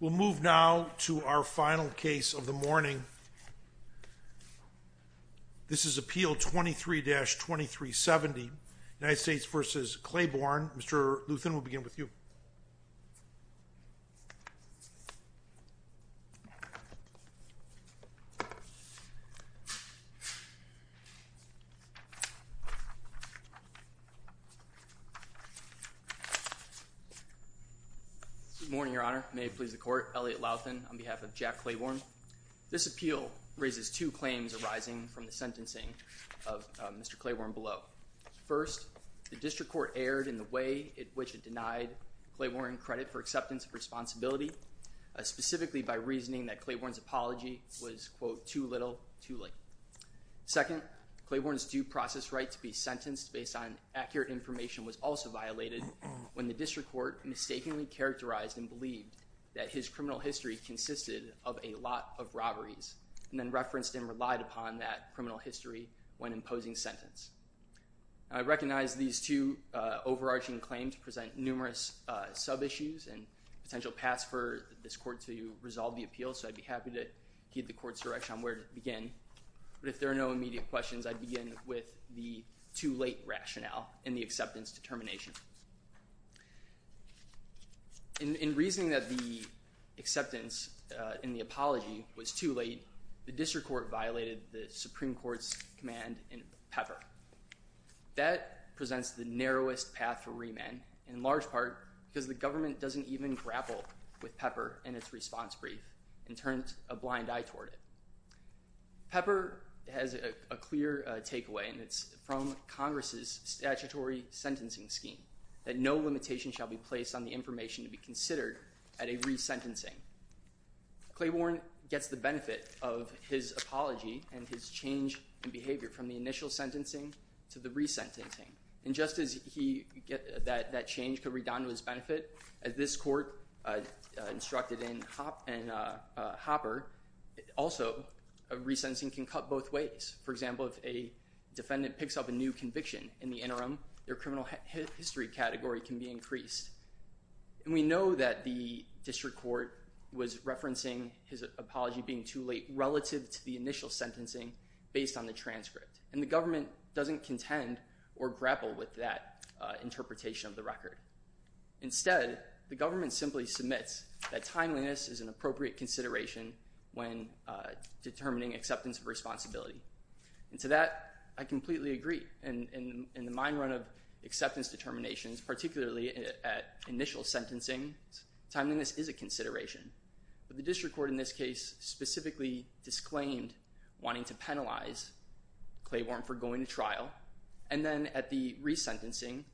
We'll move now to our final case of the morning. This is Appeal 23-2370, United States v. Clayborne. Mr. Luthan, we'll begin with you. Good morning, Your Honor. May it please the Court, Elliot Luthan on behalf of Jack Clayborne. This appeal raises two claims arising from the sentencing of Mr. Clayborne below. First, the district court erred in the way in which it denied Clayborne credit for acceptance of responsibility, specifically by reasoning that Clayborne's apology was, quote, too little, too late. Second, Clayborne's due process right to be sentenced based on accurate information was also violated when the district court mistakenly characterized and believed that his criminal history consisted of a lot of robberies and then referenced and relied upon that criminal history when imposing sentence. I recognize these two overarching claims present numerous sub-issues and potential paths for this Court to resolve the appeal, so I'd be happy to give the Court's direction on where to begin. But if there are no immediate questions, I'd begin with the too late rationale in the acceptance determination. In reasoning that the acceptance in the apology was too late, the district court violated the Supreme Court's command in Pepper. That presents the narrowest path for remand, in large part because the government doesn't even grapple with Pepper in its response brief and turns a blind eye toward it. Pepper has a clear takeaway, and it's from Congress's statutory sentencing scheme, that no limitation shall be placed on the information to be considered at a resentencing. Claiborne gets the benefit of his apology and his change in behavior from the initial sentencing to the resentencing. And just as that change could redound to his benefit, as this Court instructed in Hopper, also a resentencing can cut both ways. For example, if a defendant picks up a new conviction in the interim, their criminal history category can be increased. And we know that the district court was referencing his apology being too late relative to the initial sentencing based on the transcript, and the government doesn't contend or grapple with that interpretation of the record. Instead, the government simply submits that timeliness is an appropriate consideration when determining acceptance of responsibility. And to that, I completely agree. In the mine run of acceptance determinations, particularly at initial sentencing, timeliness is a consideration. But the district court in this case specifically disclaimed wanting to penalize Claiborne for going to trial, and then at the resentencing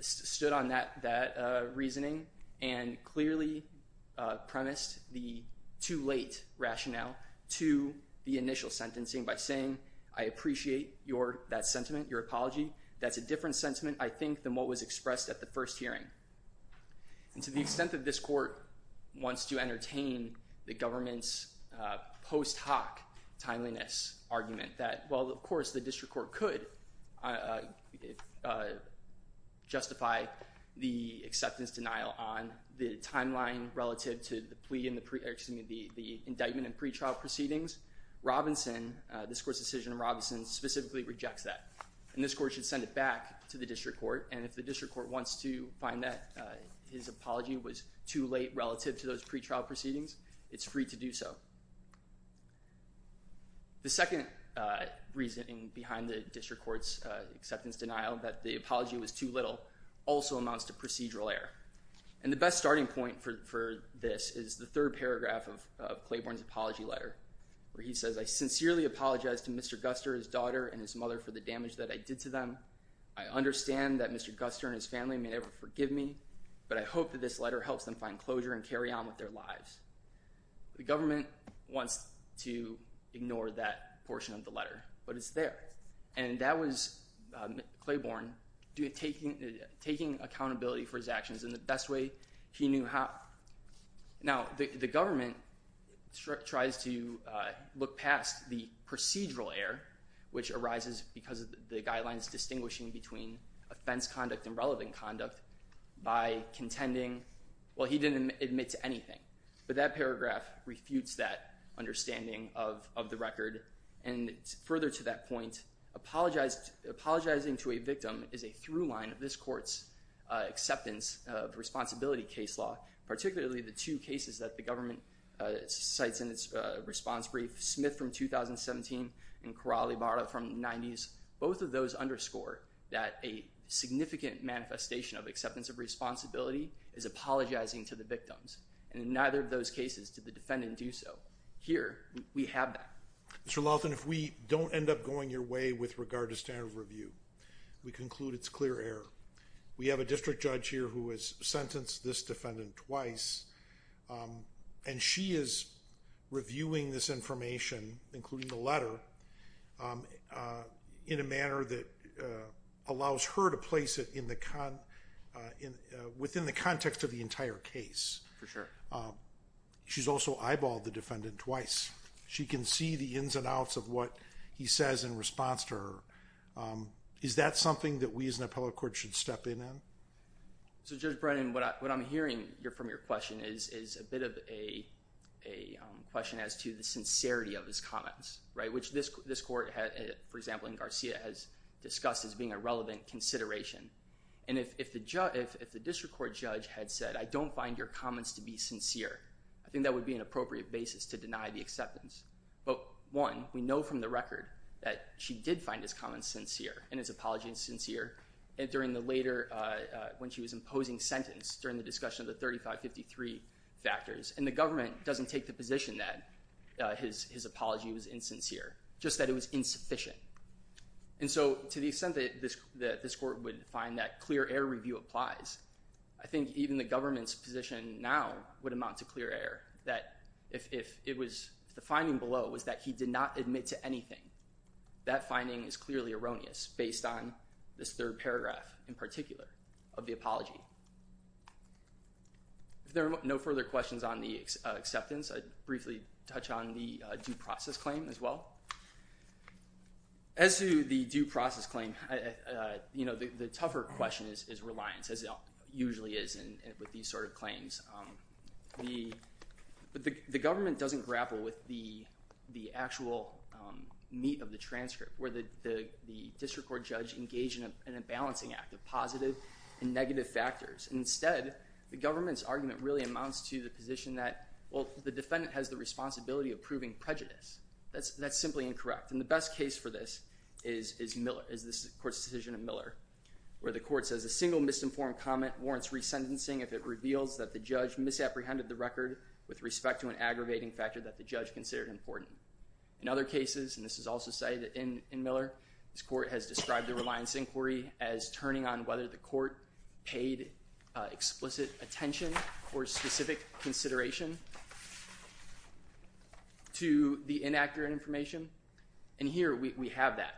stood on that reasoning and clearly premised the too late rationale to the initial sentencing by saying, I appreciate that sentiment, your apology. That's a different sentiment, I think, than what was expressed at the first hearing. And to the extent that this court wants to entertain the government's post hoc timeliness argument, that while, of course, the district court could justify the acceptance denial on the timeline relative to the indictment and pretrial proceedings, Robinson, this court's decision on Robinson, specifically rejects that. And this court should send it back to the district court, and if the district court wants to find that his apology was too late relative to those pretrial proceedings, it's free to do so. The second reasoning behind the district court's acceptance denial that the apology was too little also amounts to procedural error. And the best starting point for this is the third paragraph of Claiborne's apology letter, where he says, I sincerely apologize to Mr. Guster, his daughter, and his mother for the damage that I did to them. I understand that Mr. Guster and his family may never forgive me, but I hope that this letter helps them find closure and carry on with their lives. The government wants to ignore that portion of the letter, but it's there. And that was Claiborne taking accountability for his actions in the best way he knew how. Now, the government tries to look past the procedural error which arises because of the guidelines distinguishing between offense conduct and relevant conduct by contending, well, he didn't admit to anything. But that paragraph refutes that understanding of the record. And further to that point, apologizing to a victim is a through line of this court's acceptance of responsibility case law, particularly the two cases that the government cites in its response brief, Smith from 2017 and Corral y Barra from the 90s. Both of those underscore that a significant manifestation of acceptance of responsibility is apologizing to the victims. And in neither of those cases did the defendant do so. Here, we have that. Mr. Laughton, if we don't end up going your way with regard to standard of review, we conclude it's clear error. We have a district judge here who has sentenced this defendant twice, and she is reviewing this information, including the letter, in a manner that allows her to place it within the context of the entire case. For sure. She's also eyeballed the defendant twice. She can see the ins and outs of what he says in response to her. Is that something that we as an appellate court should step in on? So, Judge Brennan, what I'm hearing from your question is a bit of a question as to the sincerity of his comments, which this court, for example, in Garcia, has discussed as being a relevant consideration. And if the district court judge had said, I don't find your comments to be sincere, I think that would be an appropriate basis to deny the acceptance. But, one, we know from the record that she did find his comments sincere and his apologies sincere during the later, when she was imposing sentence, during the discussion of the 3553 factors. And the government doesn't take the position that his apology was insincere, just that it was insufficient. And so, to the extent that this court would find that clear air review applies, I think even the government's position now would amount to clear air, that if the finding below was that he did not admit to anything, that finding is clearly erroneous based on this third paragraph, in particular, of the apology. If there are no further questions on the acceptance, I'd briefly touch on the due process claim as well. As to the due process claim, the tougher question is reliance, as it usually is with these sort of claims. The government doesn't grapple with the actual meat of the transcript, where the district court judge engaged in a balancing act of positive and negative factors. Instead, the government's argument really amounts to the position that, well, the defendant has the responsibility of proving prejudice. That's simply incorrect. And the best case for this is Miller, is this court's decision in Miller, where the court says a single misinformed comment warrants resentencing if it reveals that the judge misapprehended the record with respect to an aggravating factor that the judge considered important. In other cases, and this is also cited in Miller, this court has described the reliance inquiry as turning on whether the court paid explicit attention or specific consideration to the inaccurate information. And here we have that.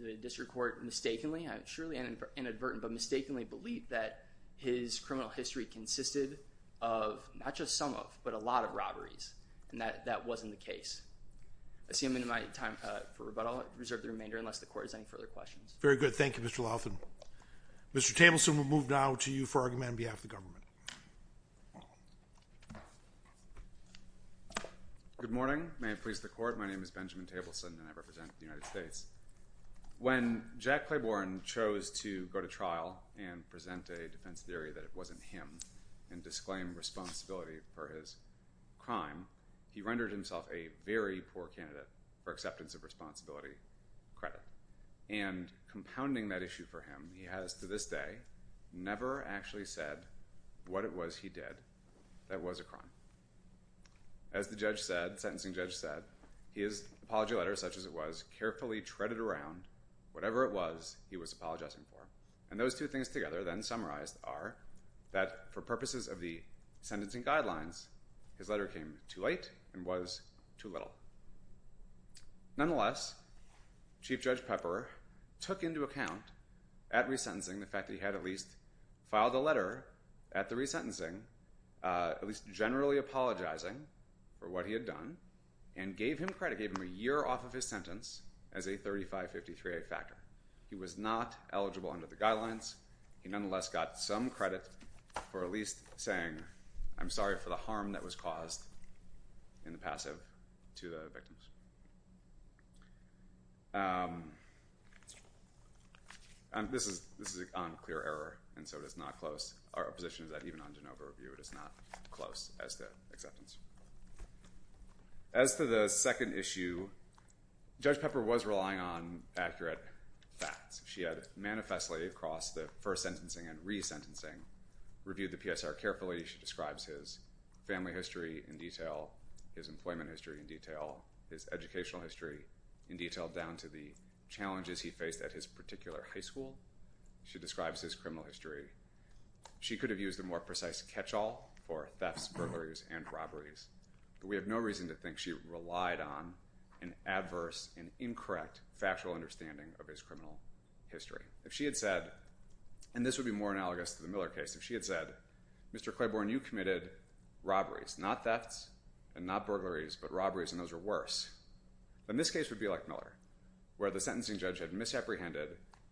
The district court mistakenly, surely inadvertently, but mistakenly believed that his criminal history consisted of not just some of, but a lot of robberies. And that wasn't the case. Assuming my time for rebuttal, I'll reserve the remainder unless the court has any further questions. Very good. Thank you, Mr. Laughlin. Mr. Tableson, we'll move now to you for argument on behalf of the government. Good morning. May it please the court, my name is Benjamin Tableson, and I represent the United States. When Jack Claiborne chose to go to trial and present a defense theory that it wasn't him and disclaim responsibility for his crime, he rendered himself a very poor candidate for acceptance of responsibility credit. And compounding that issue for him, he has to this day never actually said what it was he did that was a crime. As the sentencing judge said, his apology letter, such as it was, carefully treaded around whatever it was he was apologizing for. And those two things together, then summarized, are that for purposes of the sentencing guidelines, his letter came too late and was too little. Nonetheless, Chief Judge Pepper took into account at resentencing the fact that he had at least filed a letter at the resentencing, at least generally apologizing for what he had done, and gave him credit, gave him a year off of his sentence as a 3553A factor. He was not eligible under the guidelines. He nonetheless got some credit for at least saying, I'm sorry for the harm that was caused in the passive to the victims. This is on clear error, and so it is not close. Our position is that even on de novo review, it is not close as to acceptance. As to the second issue, Judge Pepper was relying on accurate facts. She had manifestly, across the first sentencing and resentencing, reviewed the PSR carefully. She describes his family history in detail, his employment history in detail, his educational history in detail, down to the challenges he faced at his particular high school. She describes his criminal history. She could have used a more precise catch-all for thefts, burglaries, and robberies, but we have no reason to think she relied on an adverse and incorrect factual understanding of his criminal history. If she had said, and this would be more analogous to the Miller case, if she had said, Mr. Claiborne, you committed robberies, not thefts and not burglaries, but robberies, and those are worse, then this case would be like Miller, where the sentencing judge had misapprehended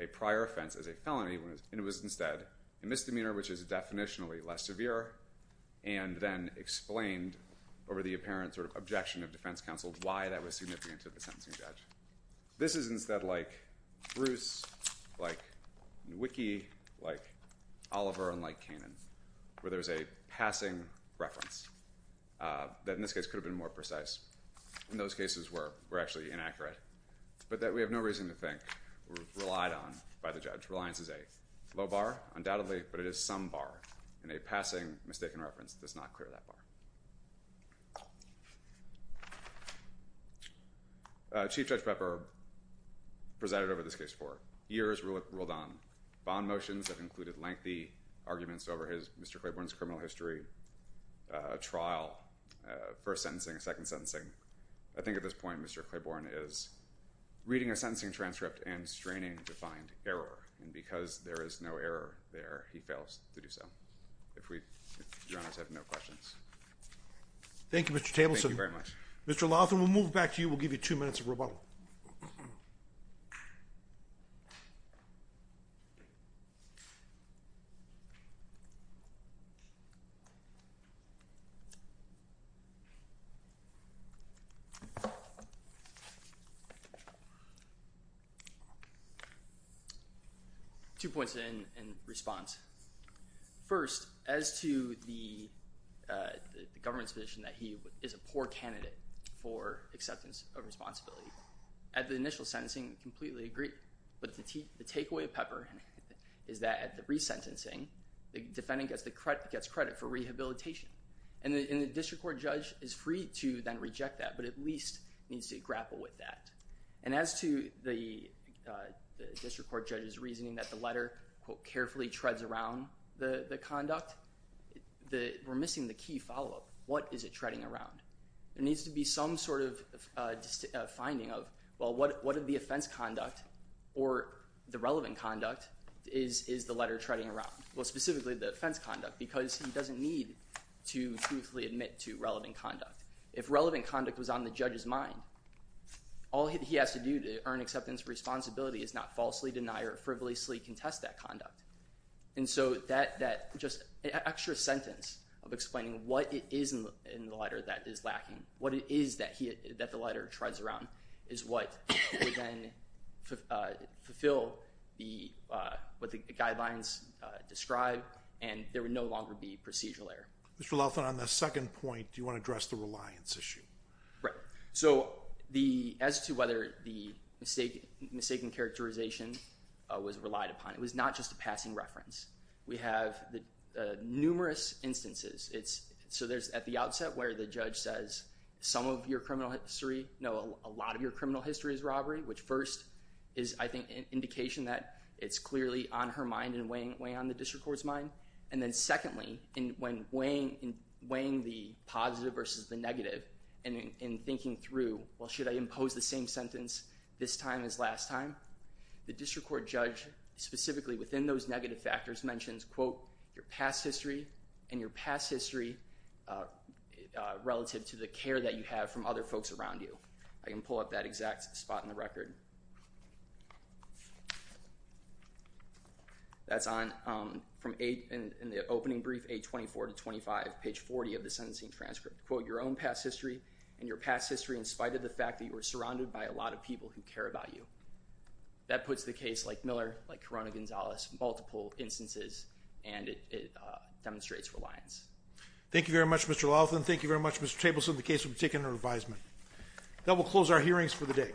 a prior offense as a felony, and it was instead a misdemeanor which is definitionally less severe, and then explained over the apparent objection of defense counsel why that was significant to the sentencing judge. This is instead like Bruce, like Nwiki, like Oliver, and like Kanan, where there's a passing reference that in this case could have been more precise. And those cases were actually inaccurate, but that we have no reason to think were relied on by the judge. Reliance is a low bar, undoubtedly, but it is some bar, and a passing mistaken reference does not clear that bar. Chief Judge Pepper presided over this case for years, ruled on bond motions that included lengthy arguments over Mr. Claiborne's criminal history trial, first sentencing, second sentencing. I think at this point, Mr. Claiborne is reading a sentencing transcript and straining to find error, and because there is no error there, he fails to do so. If Your Honors have no questions. Thank you, Mr. Tableson. Thank you very much. Mr. Lawson, we'll move back to you. We'll give you two minutes of rebuttal. Two points in response. First, as to the government's position that he is a poor candidate for acceptance of responsibility, at the initial sentencing, completely agree. But the takeaway of Pepper is that at the resentencing, the defendant gets credit for rehabilitation. And the district court judge is free to then reject that, but at least needs to grapple with that. And as to the district court judge's reasoning that the letter, quote, carefully treads around the conduct, we're missing the key follow-up. What is it treading around? There needs to be some sort of finding of, well, what of the offense conduct or the relevant conduct is the letter treading around? Well, specifically the offense conduct, because he doesn't need to truthfully admit to relevant conduct. If relevant conduct was on the judge's mind, all he has to do to earn acceptance of responsibility is not falsely deny or frivolously contest that conduct. And so that just extra sentence of explaining what it is in the letter that is lacking, what it is that the letter treads around, is what would then fulfill what the guidelines describe, and there would no longer be procedural error. Mr. Laughlin, on the second point, do you want to address the reliance issue? Right. So as to whether the mistaken characterization was relied upon, it was not just a passing reference. We have numerous instances. So there's at the outset where the judge says some of your criminal history, no, a lot of your criminal history is robbery, which first is, I think, an indication that it's clearly on her mind and way on the district court's mind. And then secondly, when weighing the positive versus the negative and thinking through, well, should I impose the same sentence this time as last time, the district court judge specifically within those negative factors mentions, quote, your past history and your past history relative to the care that you have from other folks around you. I can pull up that exact spot in the record. That's on from in the opening brief, page 24 to 25, page 40 of the sentencing transcript. Quote, your own past history and your past history in spite of the fact that you were surrounded by a lot of people who care about you. That puts the case like Miller, like Corona-Gonzalez, multiple instances, and it demonstrates reliance. Thank you very much, Mr. Laughlin. Thank you very much, Mr. Tableson, the case will be taken under advisement. That will close our hearings for the day.